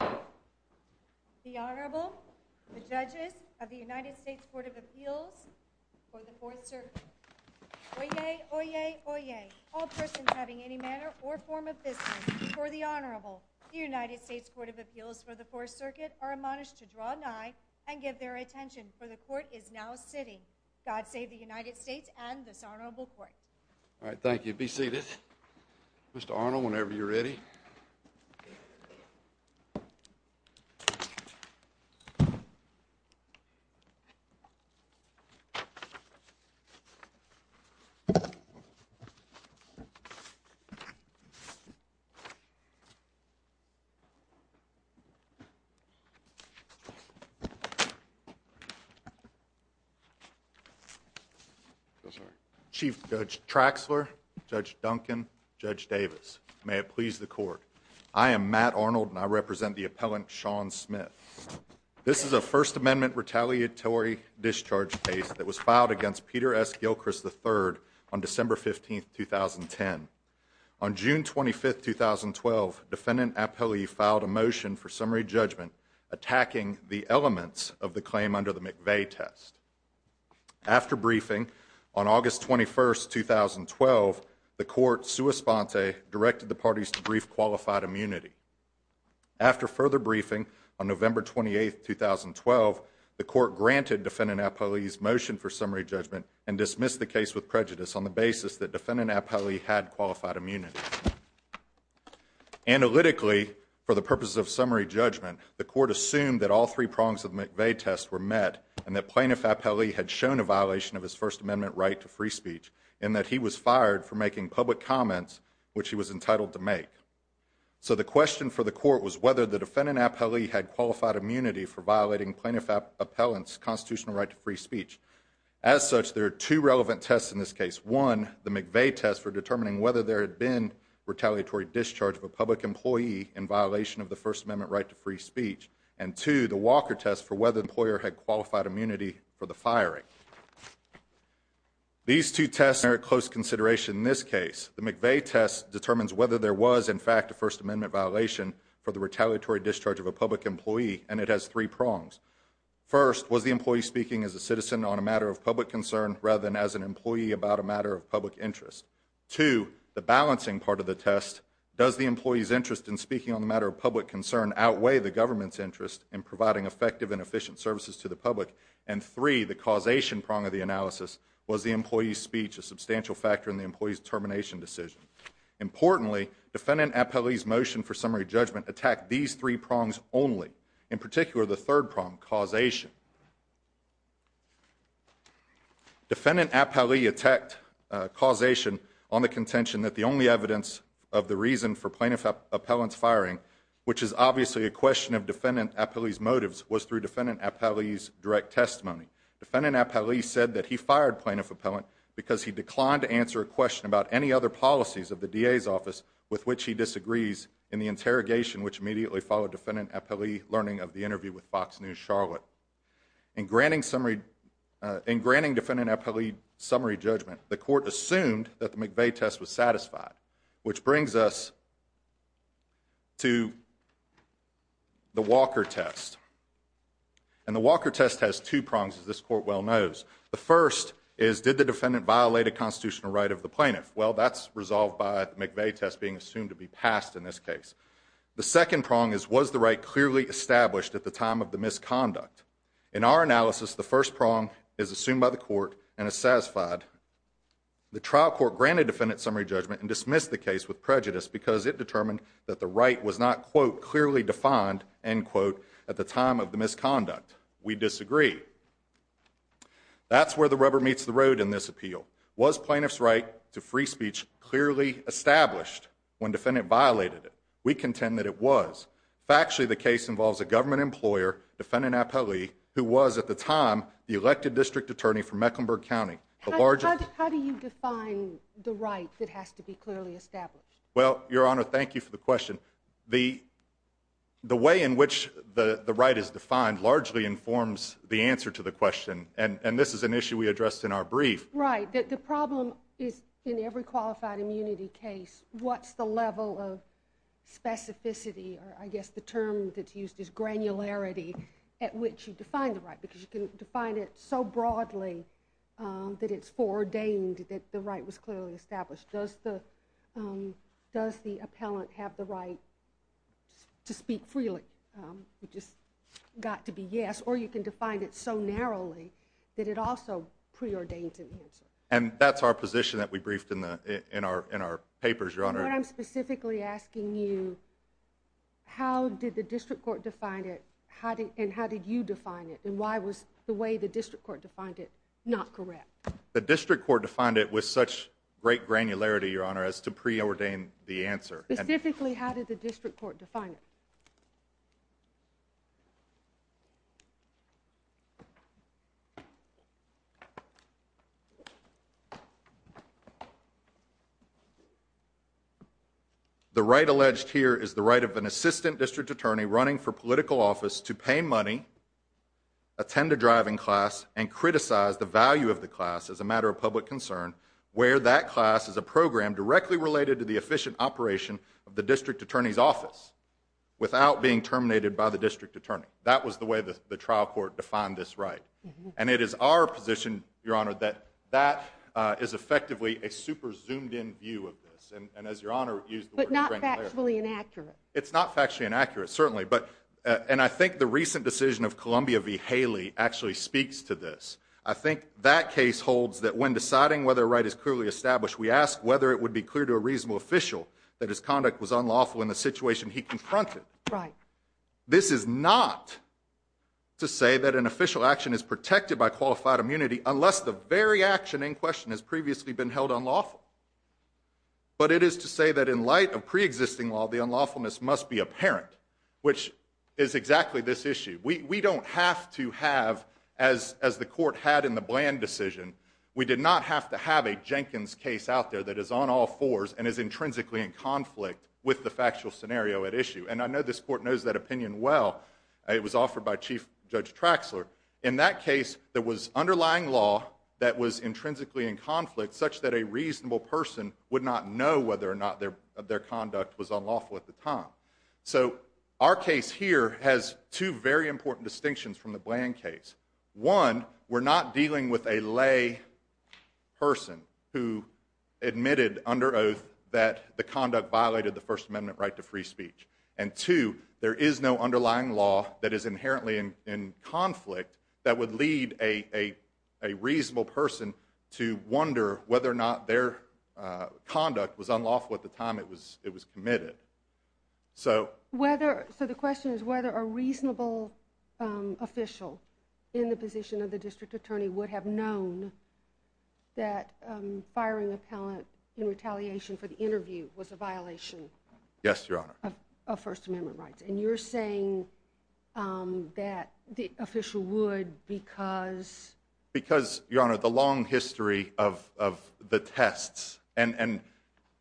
The Honorable, the Judges of the United States Court of Appeals for the Fourth Circuit. Oyez! Oyez! Oyez! All persons having any manner or form of business before the Honorable, the United States Court of Appeals for the Fourth Circuit are admonished to draw an eye and give their attention, for the Court is now sitting. God save the United States and this Honorable Court. All right, thank you. Be seated. Mr. Arnold, whenever you're ready. Chief Judge Traxler, Judge Duncan, Judge Davis, may it please the Court. I am Matt Arnold and I represent the appellant, Sean Smith. This is a First Amendment retaliatory discharge case that was filed against Peter S. Gilchrist, III, on December 15th, 2010. On June 25th, 2012, defendant Appellee filed a motion for summary judgment attacking the elements of the claim under the McVeigh test. After briefing, on August 21st, 2012, the Court, sua sponte, directed the parties to brief qualified immunity. After further briefing, on November 28th, 2012, the Court granted defendant Appellee's motion for summary judgment and dismissed the case with prejudice on the basis that defendant Appellee had qualified immunity. Analytically, for the purposes of summary judgment, the Court assumed that all three prongs of the McVeigh test were met and that plaintiff Appellee had shown a violation of his First Amendment right to free speech and that he was fired for making public comments which he was entitled to make. So the question for the Court was whether the defendant Appellee had qualified immunity for violating plaintiff Appellant's constitutional right to free speech. As such, there are two relevant tests in this case. One, the McVeigh test for determining whether there had been retaliatory discharge of a public employee in violation of the First Amendment right to free speech. And two, the Walker test for whether the employer had qualified immunity for the firing. These two tests merit close consideration in this case. The McVeigh test determines whether there was, in fact, a First Amendment violation for the retaliatory discharge of a public employee, and it has three prongs. First, was the employee speaking as a citizen on a matter of public concern rather than as an employee about a matter of public interest? Two, the balancing part of the test, does the employee's interest in speaking on the matter of public concern outweigh the government's interest in providing effective and efficient services to the public? And three, the causation prong of the analysis, was the employee's speech a substantial factor in the employee's termination decision? Importantly, defendant Appellee's motion for summary judgment attacked these three prongs only, in particular the third prong, causation. Defendant Appellee attacked causation on the contention that the only evidence of the reason for plaintiff appellant's firing, which is obviously a question of defendant Appellee's motives, was through defendant Appellee's direct testimony. Defendant Appellee said that he fired plaintiff appellant because he declined to answer a question about any other policies of the DA's office with which he disagrees in the interrogation, which immediately followed defendant Appellee learning of the interview with Fox News Charlotte. In granting defendant Appellee summary judgment, the court assumed that the McVeigh test was satisfied, which brings us to the Walker test. And the Walker test has two prongs, as this court well knows. The first is, did the defendant violate a constitutional right of the plaintiff? Well, that's resolved by the McVeigh test being assumed to be passed in this case. The second prong is, was the right clearly established at the time of the misconduct? In our analysis, the first prong is assumed by the court and is satisfied. The trial court granted defendant summary judgment and dismissed the case with prejudice because it determined that the right was not, quote, clearly defined, end quote, at the time of the misconduct. We disagree. That's where the rubber meets the road in this appeal. Was plaintiff's right to free speech clearly established when defendant violated it? We contend that it was. Factually, the case involves a government employer, defendant Appellee, who was, at the time, the elected district attorney for Mecklenburg County. How do you define the right that has to be clearly established? Well, Your Honor, thank you for the question. The way in which the right is defined largely informs the answer to the question, and this is an issue we addressed in our brief. Right. The problem is, in every qualified immunity case, what's the level of specificity, or I guess the term that's used is granularity, at which you define the right? Because you can define it so broadly that it's foreordained that the right was clearly established. Does the appellant have the right to speak freely? It just got to be yes. Or you can define it so narrowly that it also preordains an answer. And that's our position that we briefed in our papers, Your Honor. What I'm specifically asking you, how did the district court define it, and how did you define it, and why was the way the district court defined it not correct? The district court defined it with such great granularity, Your Honor, as to preordain the answer. Specifically, how did the district court define it? The right alleged here is the right of an assistant district attorney running for political office to pay money, attend a driving class, and criticize the value of the class as a matter of public concern, where that class is a program directly related to the efficient operation of the district attorney's office, without being terminated by the district attorney. That was the way the trial court defined this right. And it is our position, Your Honor, that that is effectively a super-zoomed-in view of this, and as Your Honor used the word granularity. But not factually inaccurate. It's not factually inaccurate, certainly. And I think the recent decision of Columbia v. Haley actually speaks to this. I think that case holds that when deciding whether a right is clearly established, we ask whether it would be clear to a reasonable official that his conduct was unlawful in the situation he confronted. Right. This is not to say that an official action is protected by qualified immunity, unless the very action in question has previously been held unlawful. But it is to say that in light of preexisting law, the unlawfulness must be apparent, which is exactly this issue. We don't have to have, as the court had in the Bland decision, we did not have to have a Jenkins case out there that is on all fours and is intrinsically in conflict with the factual scenario at issue. And I know this court knows that opinion well. It was offered by Chief Judge Traxler. In that case, there was underlying law that was intrinsically in conflict, such that a reasonable person would not know whether or not their conduct was unlawful at the time. So our case here has two very important distinctions from the Bland case. One, we're not dealing with a lay person who admitted under oath that the conduct violated the First Amendment right to free speech. And two, there is no underlying law that is inherently in conflict that would lead a reasonable person to wonder whether or not their conduct was unlawful at the time it was committed. So the question is whether a reasonable official in the position of the district attorney would have known that firing a palant in retaliation for the interview was a violation of First Amendment rights. And you're saying that the official would because? Because, Your Honor, the long history of the tests. And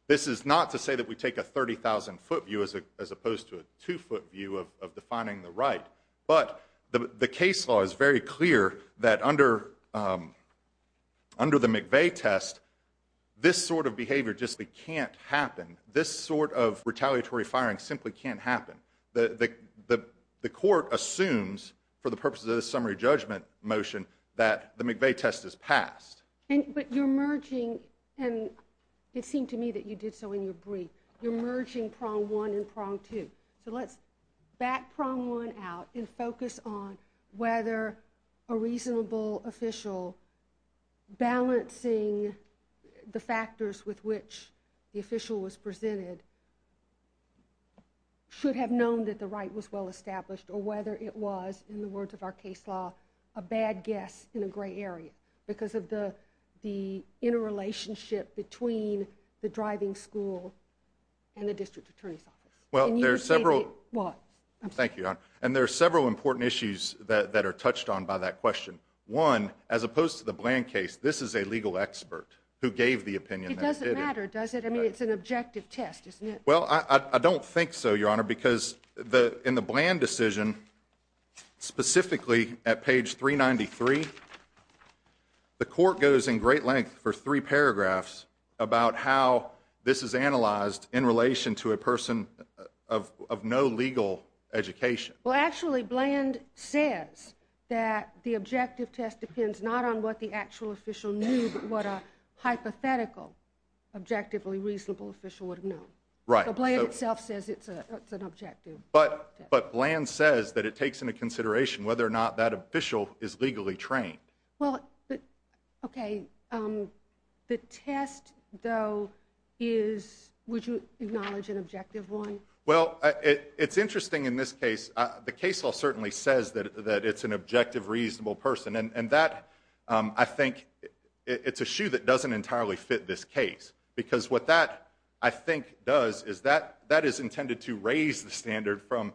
this is not to say that we take a 30,000-foot view as opposed to a two-foot view of defining the right. But the case law is very clear that under the McVeigh test, this sort of behavior just can't happen. This sort of retaliatory firing simply can't happen. The court assumes, for the purposes of this summary judgment motion, that the McVeigh test is passed. But you're merging, and it seemed to me that you did so in your brief, you're merging prong one and prong two. So let's back prong one out and focus on whether a reasonable official, balancing the factors with which the official was presented, should have known that the right was well established or whether it was, in the words of our case law, a bad guess in a gray area because of the interrelationship between the driving school and the district attorney's office. Can you repeat what? Thank you, Your Honor. And there are several important issues that are touched on by that question. One, as opposed to the Bland case, this is a legal expert who gave the opinion. It doesn't matter, does it? I mean, it's an objective test, isn't it? Well, I don't think so, Your Honor, because in the Bland decision, specifically at page 393, the court goes in great length for three paragraphs about how this is analyzed in relation to a person of no legal education. Well, actually, Bland says that the objective test depends not on what the actual official knew, but what a hypothetical objectively reasonable official would have known. Right. So Bland itself says it's an objective test. But Bland says that it takes into consideration whether or not that official is legally trained. Well, okay. The test, though, is would you acknowledge an objective one? Well, it's interesting in this case. The case law certainly says that it's an objective reasonable person. And that, I think, it's a shoe that doesn't entirely fit this case because what that, I think, does is that is intended to raise the standard from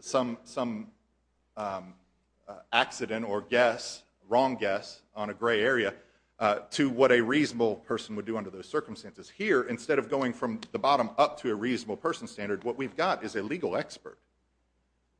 some accident or wrong guess on a gray area to what a reasonable person would do under those circumstances. Here, instead of going from the bottom up to a reasonable person standard, what we've got is a legal expert,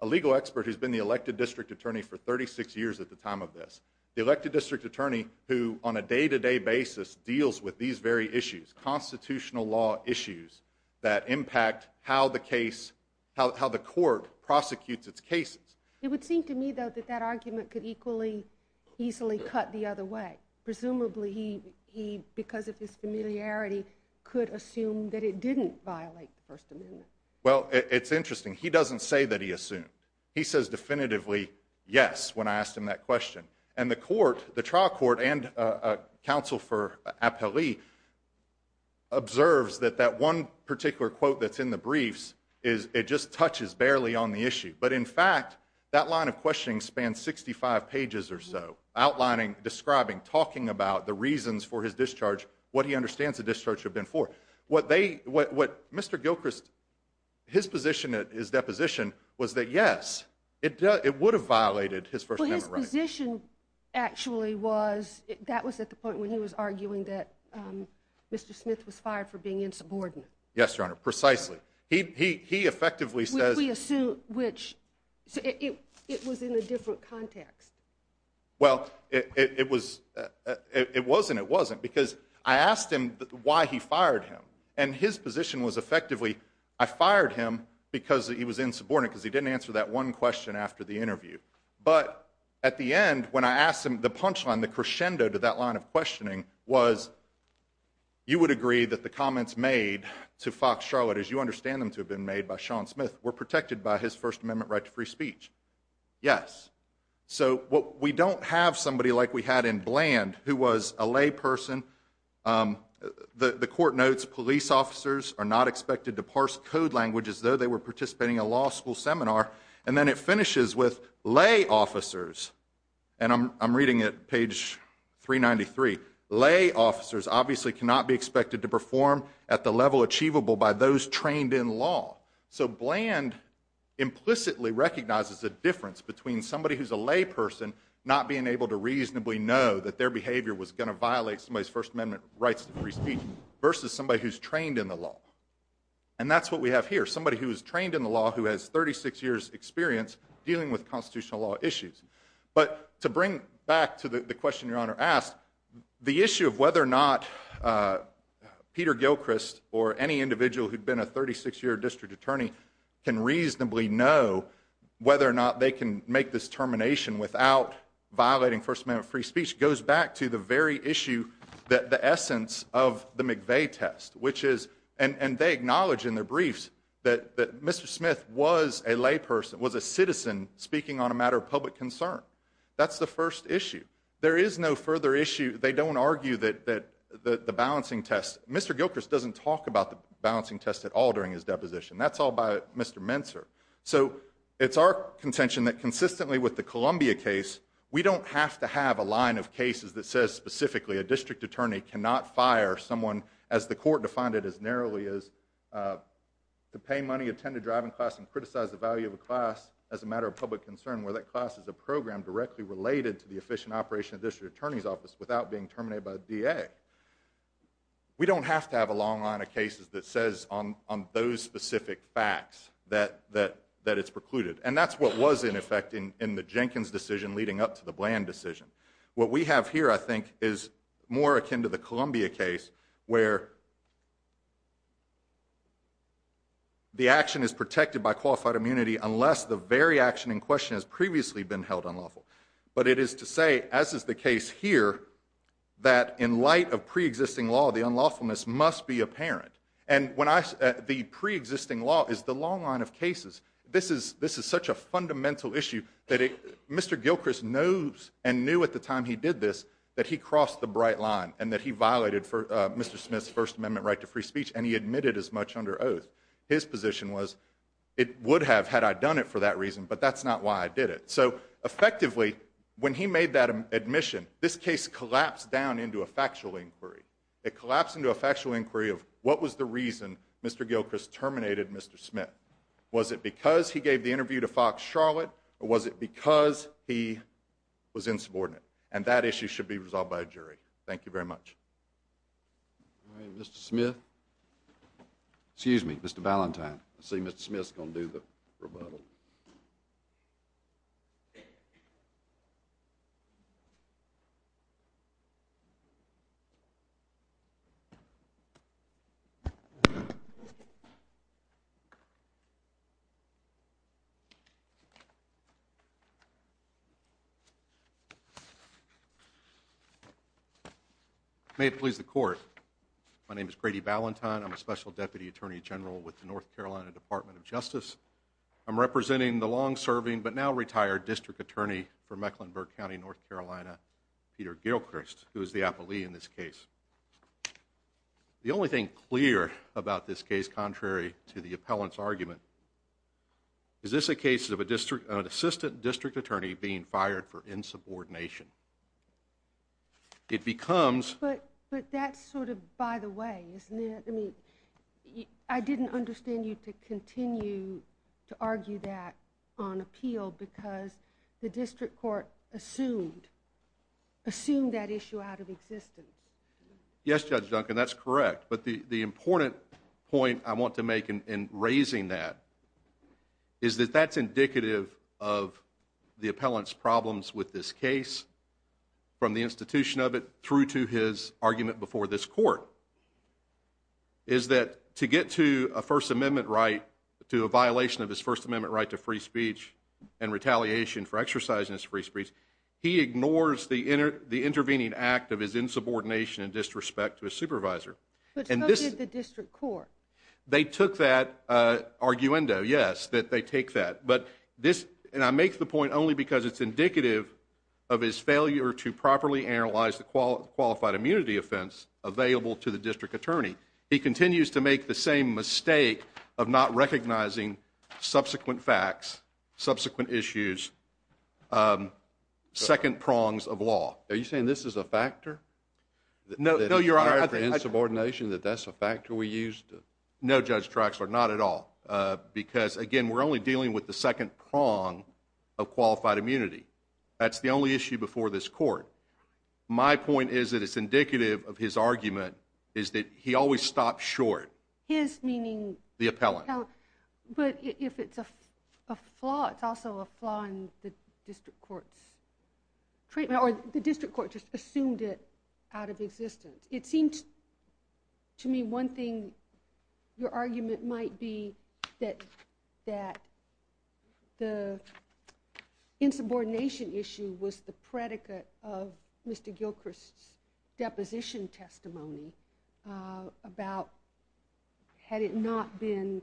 a legal expert who's been the elected district attorney for 36 years at the time of this, the elected district attorney who on a day-to-day basis deals with these very issues, constitutional law issues that impact how the case, how the court prosecutes its cases. It would seem to me, though, that that argument could equally easily cut the other way. Presumably he, because of his familiarity, could assume that it didn't violate the First Amendment. Well, it's interesting. He doesn't say that he assumed. He says definitively, yes, when I asked him that question. And the court, the trial court and counsel for appellee observes that that one particular quote that's in the briefs, it just touches barely on the issue. But, in fact, that line of questioning spans 65 pages or so, outlining, describing, talking about the reasons for his discharge, what he understands the discharge had been for. Mr. Gilchrist, his position at his deposition was that, yes, it would have violated his First Amendment rights. Well, his position actually was, that was at the point when he was arguing that Mr. Smith was fired for being insubordinate. Yes, Your Honor, precisely. He effectively says... Which we assume, which, it was in a different context. Well, it was, it wasn't, it wasn't, because I asked him why he fired him. And his position was, effectively, I fired him because he was insubordinate, because he didn't answer that one question after the interview. But, at the end, when I asked him, the punchline, the crescendo to that line of questioning was, you would agree that the comments made to Fox Charlotte, as you understand them to have been made by Sean Smith, were protected by his First Amendment right to free speech. Yes. So, we don't have somebody like we had in Bland, who was a layperson. The court notes, police officers are not expected to parse code language as though they were participating in a law school seminar. And then it finishes with, lay officers, and I'm reading it, page 393, lay officers obviously cannot be expected to perform at the level achievable by those trained in law. So, Bland implicitly recognizes the difference between somebody who's a layperson not being able to reasonably know that their behavior was going to violate somebody's First Amendment rights to free speech, versus somebody who's trained in the law. And that's what we have here, somebody who's trained in the law, who has 36 years experience dealing with constitutional law issues. But, to bring back to the question your Honor asked, the issue of whether or not Peter Gilchrist or any individual who'd been a 36-year district attorney can reasonably know whether or not they can make this termination without violating First Amendment free speech goes back to the very issue that the essence of the McVeigh test, which is, and they acknowledge in their briefs that Mr. Smith was a layperson, was a citizen, speaking on a matter of public concern. That's the first issue. There is no further issue, they don't argue that the balancing test, Mr. Gilchrist doesn't talk about the balancing test at all during his deposition. That's all by Mr. Mentzer. So, it's our contention that consistently with the Columbia case, we don't have to have a line of cases that says specifically a district attorney cannot fire someone, as the court defined it as narrowly as, to pay money, attend a driving class, and criticize the value of a class as a matter of public concern, where that class is a program directly related to the efficient operation of the district attorney's office without being terminated by the DA. We don't have to have a long line of cases that says on those specific facts that it's precluded. And that's what was in effect in the Jenkins decision leading up to the Bland decision. What we have here, I think, is more akin to the Columbia case, where the action is protected by qualified immunity unless the very action in question has previously been held unlawful. But it is to say, as is the case here, that in light of preexisting law, the unlawfulness must be apparent. And the preexisting law is the long line of cases. This is such a fundamental issue that Mr. Gilchrist knows and knew at the time he did this that he crossed the bright line and that he violated Mr. Smith's First Amendment right to free speech and he admitted as much under oath. His position was, it would have had I done it for that reason, but that's not why I did it. So effectively, when he made that admission, this case collapsed down into a factual inquiry. It collapsed into a factual inquiry of what was the reason Mr. Gilchrist terminated Mr. Smith. Was it because he gave the interview to Fox Charlotte, or was it because he was insubordinate? And that issue should be resolved by a jury. Thank you very much. All right, Mr. Smith. Excuse me, Mr. Valentine. I see Mr. Smith's going to do the rebuttal. May it please the court. My name is Grady Valentine. I'm a Special Deputy Attorney General with the North Carolina Department of Justice. I'm representing the long-serving, but now retired, District Attorney for Mecklenburg County, North Carolina, Peter Gilchrist, who is the appellee in this case. The only thing clear about this case, contrary to the appellant's argument, is this a case of an assistant district attorney being fired for insubordination. It becomes... But that's sort of by the way, isn't it? I mean, I didn't understand you to continue to argue that on appeal because the district court assumed that issue out of existence. Yes, Judge Duncan, that's correct. But the important point I want to make in raising that is that that's indicative of the appellant's problems with this case from the institution of it through to his argument before this court, is that to get to a First Amendment right, to a violation of his First Amendment right to free speech and retaliation for exercising his free speech, he ignores the intervening act of his insubordination and disrespect to his supervisor. But so did the district court. They took that arguendo, yes, that they take that. But this, and I make the point only because it's indicative of his failure to properly analyze the qualified immunity offense available to the district attorney. He continues to make the same mistake of not recognizing subsequent facts, subsequent issues, second prongs of law. Are you saying this is a factor? No, Your Honor. The insubordination, that that's a factor we used? No, Judge Traxler, not at all. Because, again, we're only dealing with the second prong of qualified immunity. That's the only issue before this court. My point is that it's indicative of his argument is that he always stops short. His meaning? The appellant. But if it's a flaw, it's also a flaw in the district court's treatment, or the district court just assumed it out of existence. It seems to me one thing your argument might be that the insubordination issue was the predicate of Mr. Gilchrist's deposition testimony about had he not been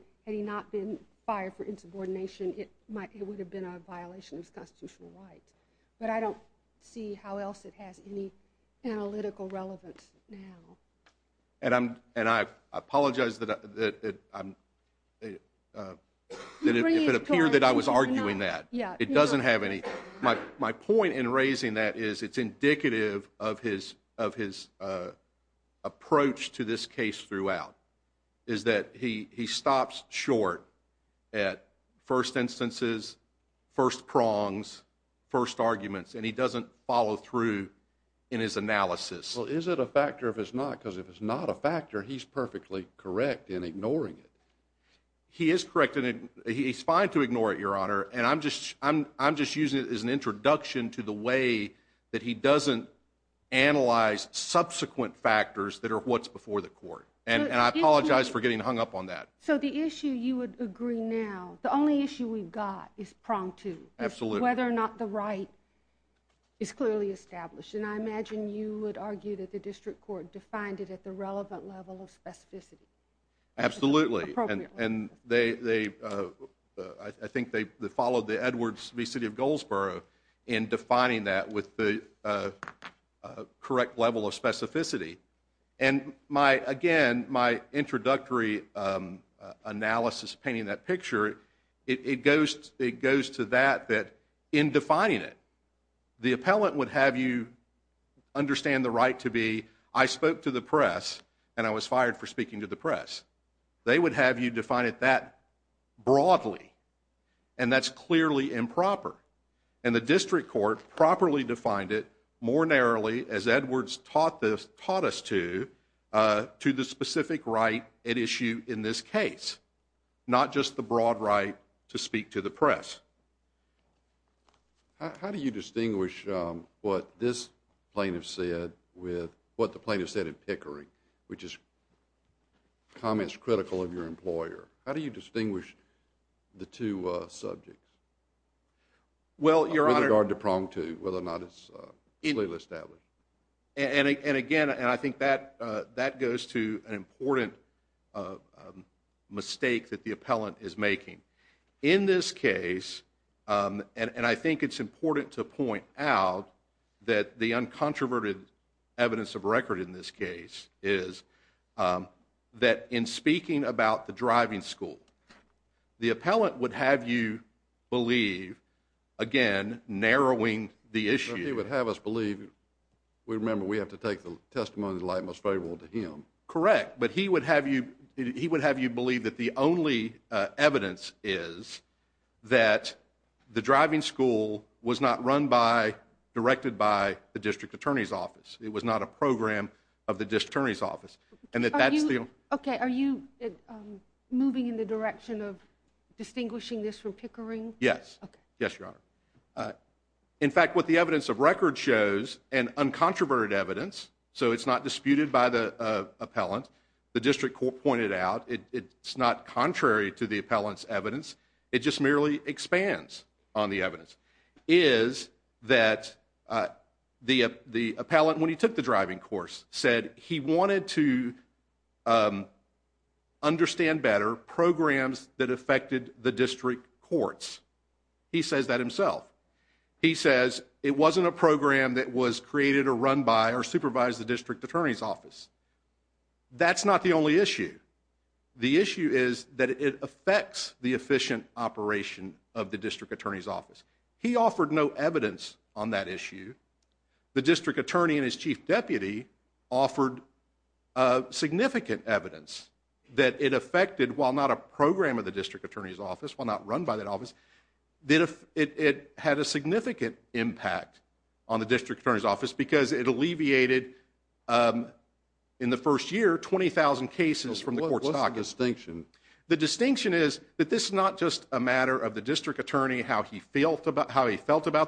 fired for insubordination, it would have been a violation of his constitutional rights. But I don't see how else it has any analytical relevance now. And I apologize if it appeared that I was arguing that. It doesn't have any. My point in raising that is it's indicative of his approach to this case throughout, is that he stops short at first instances, first prongs, first arguments, and he doesn't follow through in his analysis. Well, is it a factor if it's not? Because if it's not a factor, he's perfectly correct in ignoring it. He is correct, and he's fine to ignore it, Your Honor. And I'm just using it as an introduction to the way that he doesn't analyze subsequent factors that are what's before the court. And I apologize for getting hung up on that. So the issue you would agree now, the only issue we've got is prong two, whether or not the right is clearly established. And I imagine you would argue that the district court defined it at the relevant level of specificity. Absolutely. And I think they followed the Edwards v. City of Goldsboro in defining that with the correct level of specificity. And, again, my introductory analysis painting that picture, it goes to that that in defining it, the appellant would have you understand the right to be, I spoke to the press and I was fired for speaking to the press. They would have you define it that broadly. And that's clearly improper. And the district court properly defined it more narrowly, as Edwards taught us to, to the specific right at issue in this case, not just the broad right to speak to the press. How do you distinguish what this plaintiff said with what the plaintiff said in Pickering, which is comments critical of your employer? How do you distinguish the two subjects? With regard to prong two, whether or not it's clearly established. And, again, I think that goes to an important mistake that the appellant is making. In this case, and I think it's important to point out that the uncontroverted evidence of record in this case is that in speaking about the driving school, the appellant would have you believe, again, narrowing the issue. He would have us believe. Remember, we have to take the testimony of the light most favorable to him. Correct, but he would have you believe that the only evidence is that the driving school was not run by, directed by the district attorney's office. It was not a program of the district attorney's office. Okay, are you moving in the direction of distinguishing this from Pickering? Yes. Okay. Yes, Your Honor. In fact, what the evidence of record shows, and uncontroverted evidence, so it's not disputed by the appellant, the district court pointed out, it's not contrary to the appellant's evidence, it just merely expands on the evidence, is that the appellant, when he took the driving course, said he wanted to understand better programs that affected the district courts. He says that himself. He says it wasn't a program that was created or run by or supervised the district attorney's office. That's not the only issue. The issue is that it affects the efficient operation of the district attorney's office. He offered no evidence on that issue. The district attorney and his chief deputy offered significant evidence that it affected, while not a program of the district attorney's office, while not run by that office, that it had a significant impact on the district attorney's office because it alleviated, in the first year, 20,000 cases from the court's office. What's the distinction? The distinction is that this is not just a matter of the district attorney, how he felt about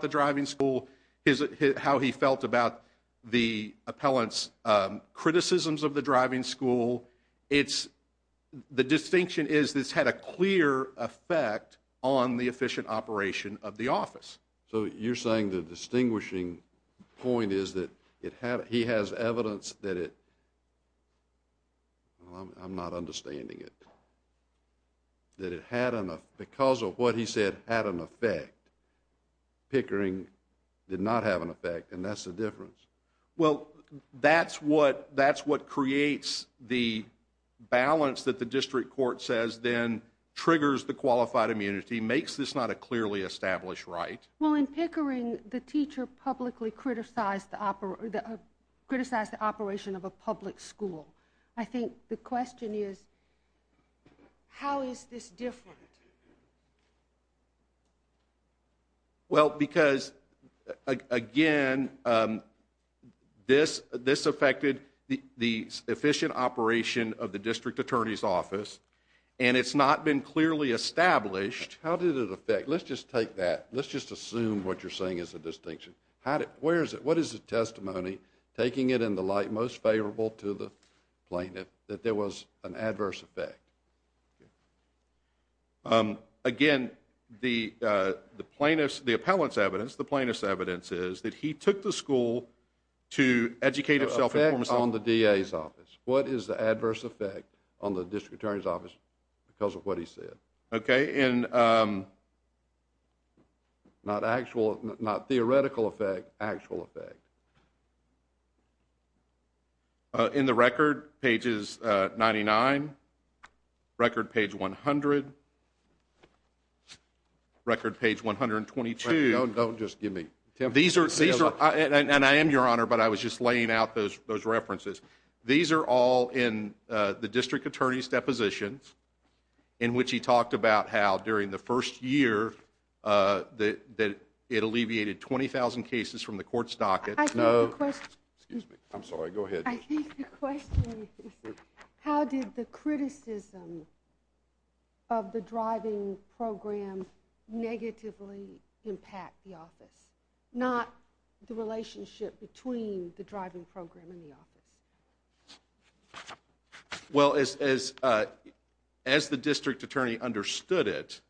the driving school, how he felt about the appellant's criticisms of the driving school. The distinction is this had a clear effect on the efficient operation of the office. So you're saying the distinguishing point is that he has evidence that it, I'm not understanding it, that it had, because of what he said, had an effect. Pickering did not have an effect, and that's the difference. Well, that's what creates the balance that the district court says then triggers the qualified immunity, makes this not a clearly established right. Well, in Pickering, the teacher publicly criticized the operation of a public school. I think the question is, how is this different? Well, because, again, this affected the efficient operation of the district attorney's office, and it's not been clearly established. How did it affect? Let's just take that. Let's just assume what you're saying is a distinction. Where is it? What is the testimony, taking it in the light most favorable to the plaintiff, that there was an adverse effect? Again, the plaintiff's, the appellant's evidence, the plaintiff's evidence is that he took the school to educate itself. The effect on the DA's office. What is the adverse effect on the district attorney's office because of what he said? Okay. Not actual, not theoretical effect, actual effect. In the record, pages 99, record page 100, record page 122. Don't just give me. And I am your honor, but I was just laying out those references. These are all in the district attorney's depositions in which he talked about how, during the first year, that it alleviated 20,000 cases from the court's docket. No. Excuse me. I'm sorry. Go ahead. I think the question is how did the criticism of the driving program negatively impact the office, not the relationship between the driving program and the office? Well, as the district attorney understood it,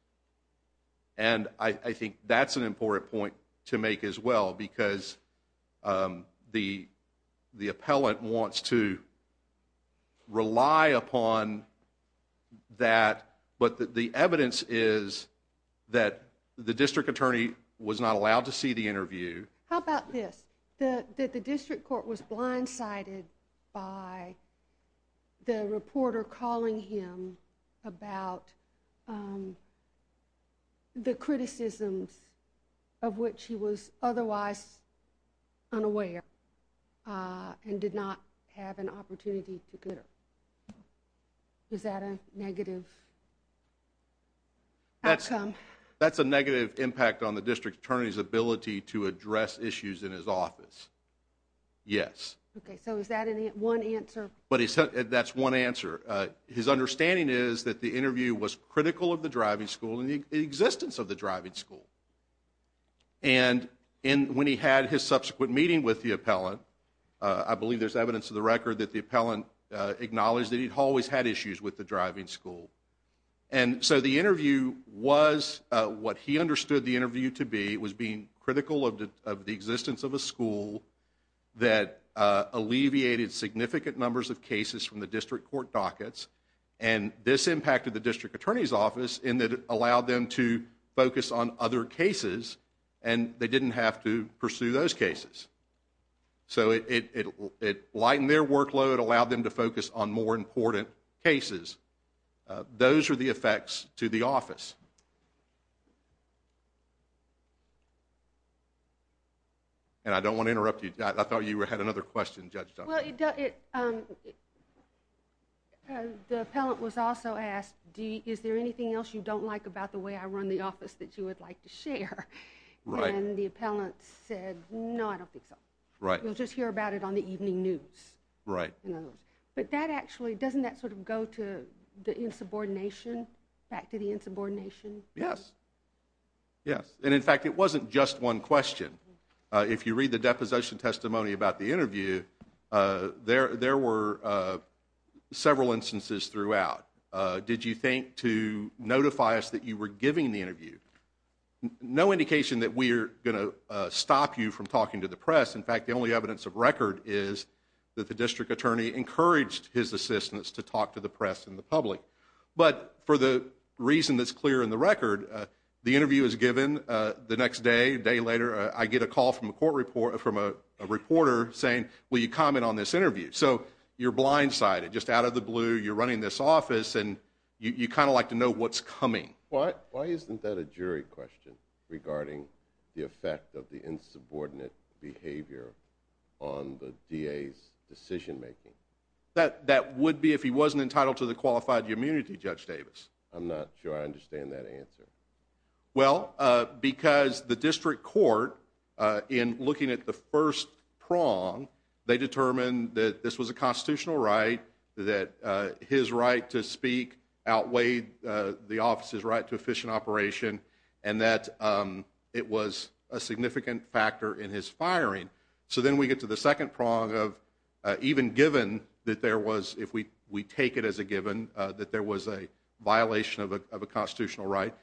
and I think that's an important point to make as well because the appellant wants to rely upon that, but the evidence is that the district attorney was not allowed to see the interview. How about this? That the district court was blindsided by the reporter calling him about the criticisms of which he was otherwise unaware and did not have an opportunity to consider. Is that a negative outcome? That's a negative impact on the district attorney's ability to address issues in his office. Yes. Okay. So is that one answer? That's one answer. His understanding is that the interview was critical of the driving school and the existence of the driving school. And when he had his subsequent meeting with the appellant, I believe there's evidence in the record that the appellant acknowledged that he'd always had issues with the driving school. And so the interview was what he understood the interview to be, was being critical of the existence of a school that alleviated significant numbers of cases from the district court dockets. And this impacted the district attorney's office in that it allowed them to focus on other cases and they didn't have to pursue those cases. So it lightened their workload, allowed them to focus on more important cases. Those are the effects to the office. And I don't want to interrupt you. I thought you had another question, Judge Dunbar. Well, the appellant was also asked, is there anything else you don't like about the way I run the office that you would like to share? Right. And the appellant said, no, I don't think so. Right. We'll just hear about it on the evening news. Right. But that actually, doesn't that sort of go to the insubordination, back to the insubordination? Yes. Yes. And in fact, it wasn't just one question. If you read the deposition testimony about the interview, there were several instances throughout. Did you think to notify us that you were giving the interview? No indication that we are going to stop you from talking to the press. In fact, the only evidence of record is that the district attorney encouraged his assistants to talk to the press and the public. But for the reason that's clear in the record, the interview is given. The next day, a day later, I get a call from a reporter saying, will you comment on this interview? So you're blindsided, just out of the blue. You're running this office, and you kind of like to know what's coming. Why isn't that a jury question regarding the effect of the insubordinate behavior on the DA's decision making? That would be if he wasn't entitled to the qualified immunity, Judge Davis. I'm not sure I understand that answer. Well, because the district court, in looking at the first prong, they determined that this was a constitutional right, that his right to speak outweighed the office's right to efficient operation, and that it was a significant factor in his firing. So then we get to the second prong of even given that there was, if we take it as a given, that there was a violation of a constitutional right,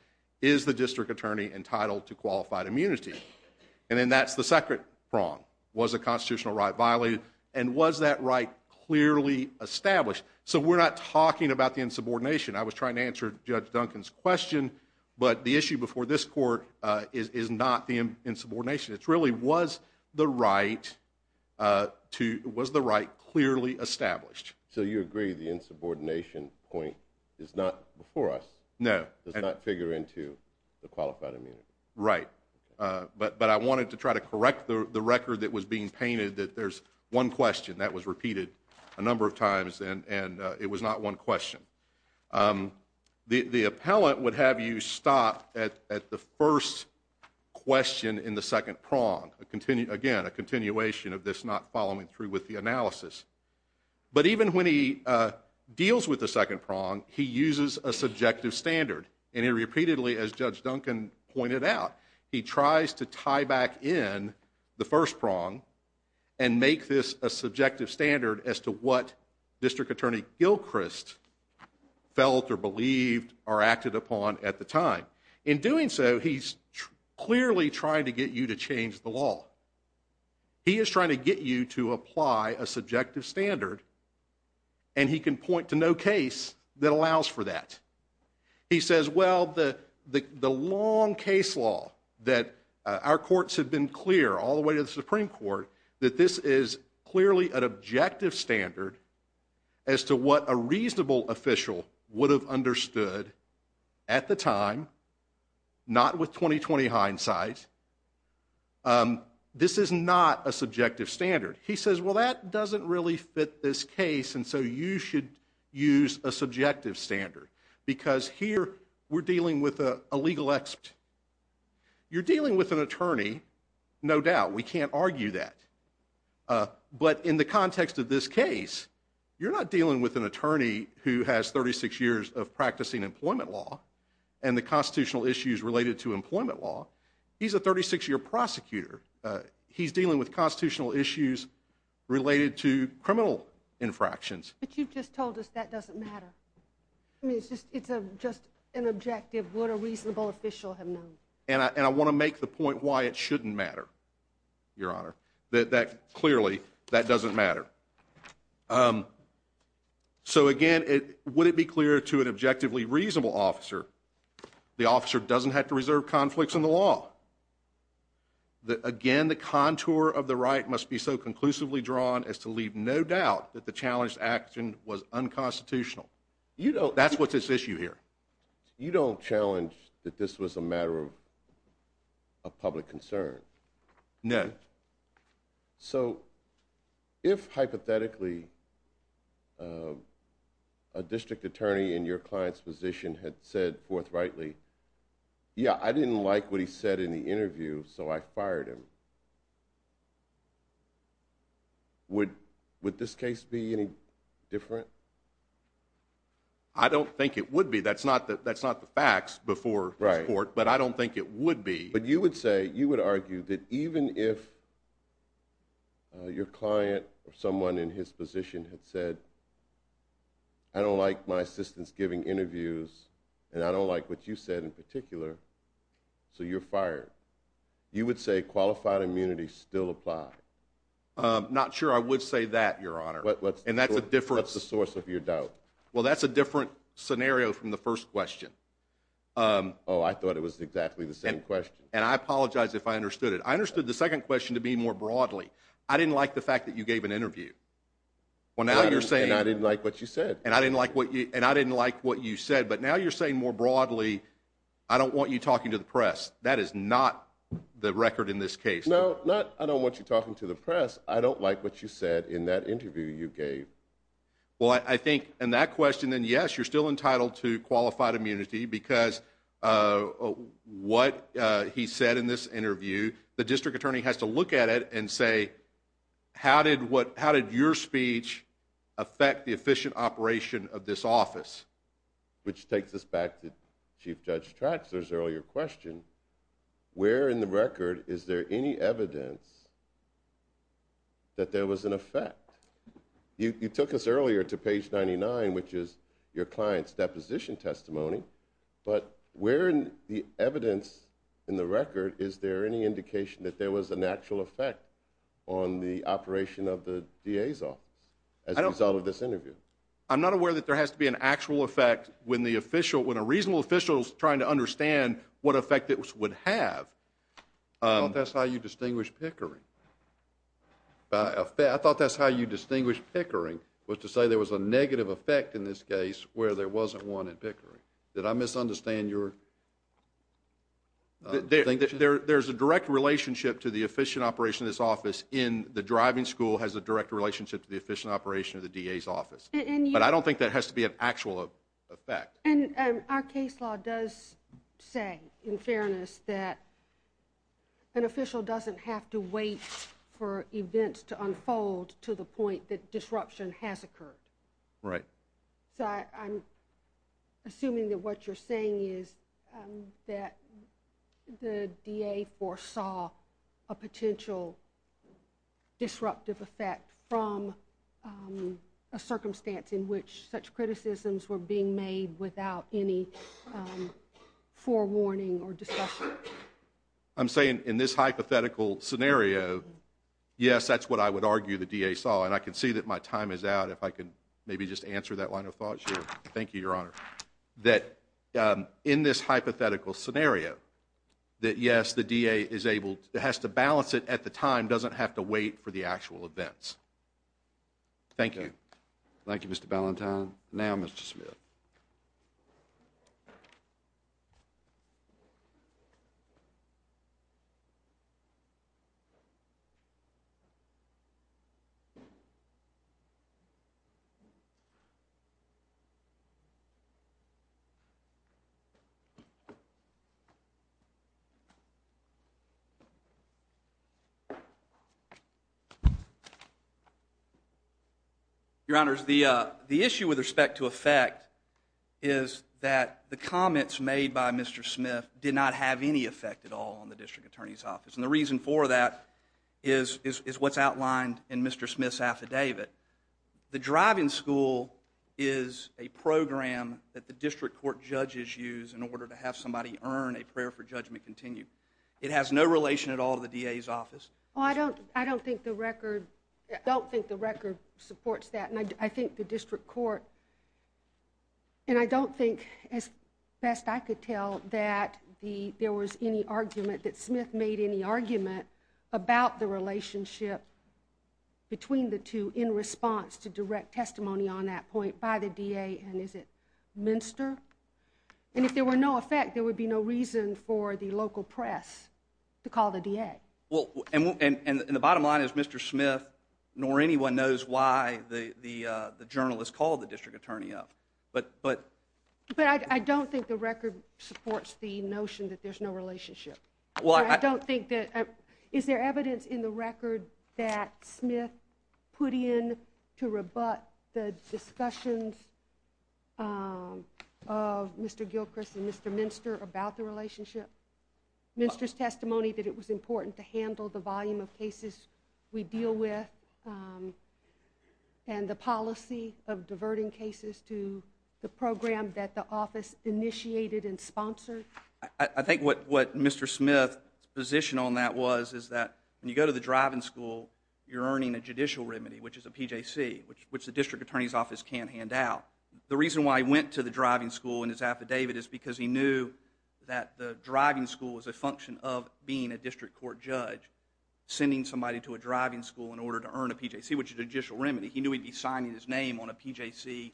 is the district attorney entitled to qualified immunity? And then that's the second prong. Was the constitutional right violated, and was that right clearly established? So we're not talking about the insubordination. I was trying to answer Judge Duncan's question, but the issue before this court is not the insubordination. It really was the right clearly established. So you agree the insubordination point is not before us? No. Does not figure into the qualified immunity? Right. But I wanted to try to correct the record that was being painted that there's one question that was repeated a number of times, and it was not one question. The appellant would have you stop at the first question in the second prong, again, a continuation of this not following through with the analysis. But even when he deals with the second prong, he uses a subjective standard, and he repeatedly, as Judge Duncan pointed out, he tries to tie back in the first prong and make this a subjective standard as to what District Attorney Gilchrist felt or believed or acted upon at the time. In doing so, he's clearly trying to get you to change the law. He is trying to get you to apply a subjective standard, and he can point to no case that allows for that. He says, well, the long case law that our courts have been clear all the way to the Supreme Court, that this is clearly an objective standard as to what a reasonable official would have understood at the time, not with 20-20 hindsight, this is not a subjective standard. He says, well, that doesn't really fit this case, and so you should use a subjective standard, because here we're dealing with a legal expert. You're dealing with an attorney, no doubt. We can't argue that. But in the context of this case, you're not dealing with an attorney who has 36 years of practicing employment law and the constitutional issues related to employment law. He's a 36-year prosecutor. He's dealing with constitutional issues related to criminal infractions. But you've just told us that doesn't matter. I mean, it's just an objective what a reasonable official would have known. And I want to make the point why it shouldn't matter, Your Honor, that clearly that doesn't matter. So, again, would it be clearer to an objectively reasonable officer, the officer doesn't have to reserve conflicts in the law? Again, the contour of the right must be so conclusively drawn as to leave no doubt that the challenged action was unconstitutional. That's what's at issue here. You don't challenge that this was a matter of public concern? No. So if, hypothetically, a district attorney in your client's position had said forthrightly, yeah, I didn't like what he said in the interview, so I fired him, would this case be any different? I don't think it would be. That's not the facts before this court, but I don't think it would be. But you would say, you would argue that even if your client or someone in his position had said, I don't like my assistants giving interviews and I don't like what you said in particular, so you're fired. You would say qualified immunity still applied? Not sure I would say that, Your Honor. What's the source of your doubt? Well, that's a different scenario from the first question. Oh, I thought it was exactly the same question. And I apologize if I understood it. I understood the second question to be more broadly. I didn't like the fact that you gave an interview. And I didn't like what you said. And I didn't like what you said, but now you're saying more broadly, I don't want you talking to the press. That is not the record in this case. No, I don't want you talking to the press. I don't like what you said in that interview you gave. Well, I think in that question, then yes, you're still entitled to qualified immunity because what he said in this interview, the district attorney has to look at it and say, how did your speech affect the efficient operation of this office? Which takes us back to Chief Judge Traxler's earlier question. Where in the record is there any evidence that there was an effect? You took us earlier to page 99, which is your client's deposition testimony. But where in the evidence in the record is there any indication that there was an actual effect on the operation of the DA's office as a result of this interview? I'm not aware that there has to be an actual effect when a reasonable official is trying to understand what effect it would have. I thought that's how you distinguish pickering. I thought that's how you distinguish pickering, was to say there was a negative effect in this case where there wasn't one in pickering. Did I misunderstand your question? There's a direct relationship to the efficient operation of this office in the driving school has a direct relationship to the efficient operation of the DA's office. But I don't think that has to be an actual effect. And our case law does say, in fairness, that an official doesn't have to wait for events to unfold to the point that disruption has occurred. Right. So I'm assuming that what you're saying is that the DA foresaw a potential disruptive effect from a circumstance in which such criticisms were being made without any forewarning or discussion. I'm saying in this hypothetical scenario, yes, that's what I would argue the DA saw. And I can see that my time is out, if I could maybe just answer that line of thought here. Thank you, Your Honor. That in this hypothetical scenario, that, yes, the DA has to balance it at the time, doesn't have to wait for the actual events. Thank you. Thank you, Mr. Ballentine. Now Mr. Smith. Your Honor, the issue with respect to effect is that the comments made by Mr. Smith did not have any effect at all on the district attorney's office. And the reason for that is what's outlined in Mr. Smith's affidavit. The driving school is a program that the district court judges use in order to have somebody earn a prayer for judgment continued. It has no relation at all to the DA's office. Well, I don't think the record supports that. And I think the district court, and I don't think as best I could tell that there was any argument, that Smith made any argument about the relationship between the two in response to direct testimony on that point by the DA. And is it Minster? And if there were no effect, there would be no reason for the local press to call the DA. Okay. And the bottom line is Mr. Smith nor anyone knows why the journalist called the district attorney up. But I don't think the record supports the notion that there's no relationship. Is there evidence in the record that Smith put in to rebut the discussions of Mr. Gilchrist and Mr. Minster about the relationship? Minster's testimony that it was important to handle the volume of cases we deal with and the policy of diverting cases to the program that the office initiated and sponsored? I think what Mr. Smith's position on that was is that when you go to the driving school, you're earning a judicial remedy, which is a PJC, which the district attorney's office can't hand out. The reason why he went to the driving school in his affidavit is because he knew that the driving school was a function of being a district court judge, sending somebody to a driving school in order to earn a PJC, which is a judicial remedy. He knew he'd be signing his name on a PJC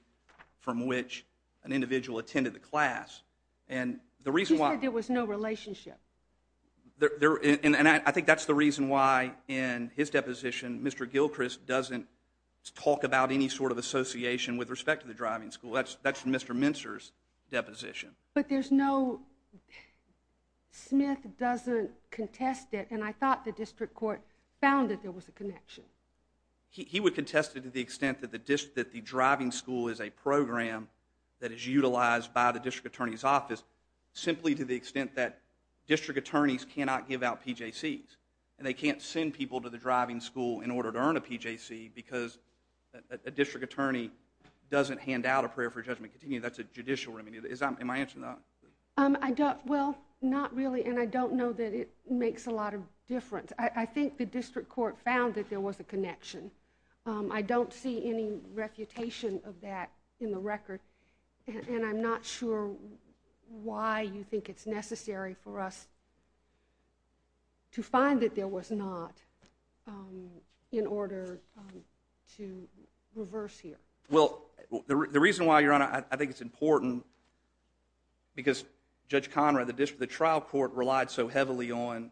from which an individual attended the class. He said there was no relationship. And I think that's the reason why in his deposition, Mr. Gilchrist doesn't talk about any sort of association with respect to the driving school. That's from Mr. Minster's deposition. But there's no—Smith doesn't contest it, and I thought the district court found that there was a connection. He would contest it to the extent that the driving school is a program that is utilized by the district attorney's office simply to the extent that district attorneys cannot give out PJCs, and they can't send people to the driving school in order to earn a PJC because a district attorney doesn't hand out a prayer for judgment. That's a judicial remedy. Am I answering that? Well, not really, and I don't know that it makes a lot of difference. I think the district court found that there was a connection. I don't see any refutation of that in the record, and I'm not sure why you think it's necessary for us to find that there was not in order to reverse here. Well, the reason why, Your Honor, I think it's important because Judge Conrad, the trial court relied so heavily on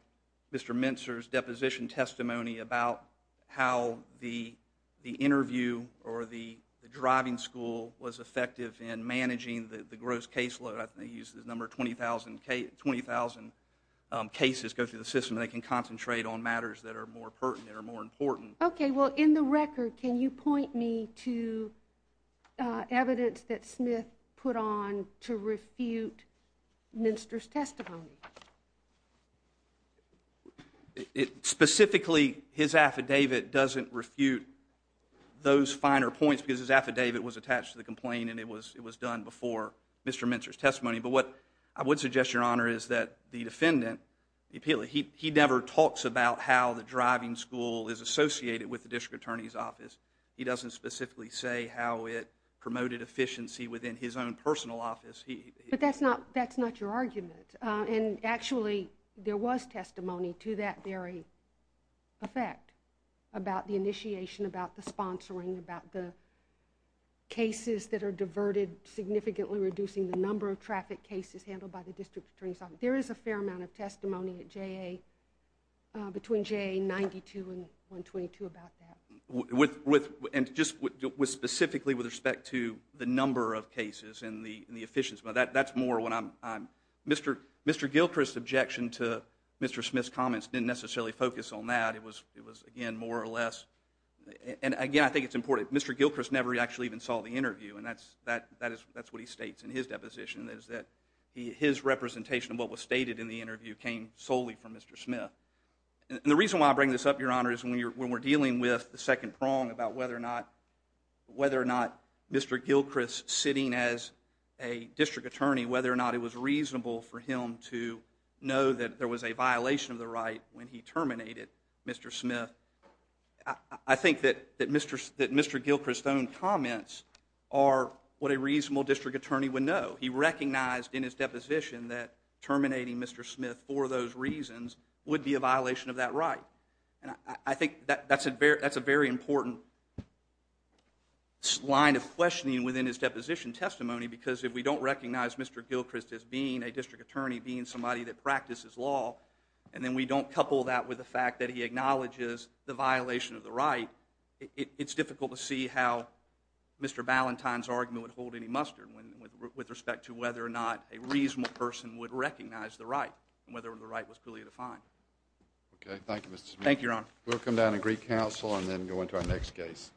Mr. Minster's deposition testimony about how the interview or the driving school was effective in managing the gross caseload. I think they used the number 20,000 cases go through the system, and they can concentrate on matters that are more pertinent or more important. Okay. Well, in the record, can you point me to evidence that Smith put on to refute Minster's testimony? Specifically, his affidavit doesn't refute those finer points because his affidavit was attached to the complaint, and it was done before Mr. Minster's testimony. But what I would suggest, Your Honor, is that the defendant, the appealant, he never talks about how the driving school is associated with the district attorney's office. He doesn't specifically say how it promoted efficiency within his own personal office. But that's not your argument, and actually, there was testimony to that very effect about the initiation, about the sponsoring, about the cases that are diverted, significantly reducing the number of traffic cases handled by the district attorney's office. There is a fair amount of testimony at JA between JA 92 and 122 about that. And just specifically with respect to the number of cases and the efficiency. That's more when I'm – Mr. Gilchrist's objection to Mr. Smith's comments didn't necessarily focus on that. It was, again, more or less – and again, I think it's important. Mr. Gilchrist never actually even saw the interview, and that's what he states in his deposition, is that his representation of what was stated in the interview came solely from Mr. Smith. And the reason why I bring this up, Your Honor, is when we're dealing with the second prong about whether or not Mr. Gilchrist sitting as a district attorney, whether or not it was reasonable for him to know that there was a violation of the right when he terminated Mr. Smith, I think that Mr. Gilchrist's own comments are what a reasonable district attorney would know. He recognized in his deposition that terminating Mr. Smith for those reasons would be a violation of that right. And I think that's a very important line of questioning within his deposition testimony because if we don't recognize Mr. Gilchrist as being a district attorney, being somebody that practices law, and then we don't couple that with the fact that he acknowledges the violation of the right, it's difficult to see how Mr. Ballantyne's argument would hold any mustard with respect to whether or not a reasonable person would recognize the right, and whether or not the right was clearly defined. Okay. Thank you, Mr. Smith. Thank you, Your Honor. We'll come down to Greek Council and then go into our next case.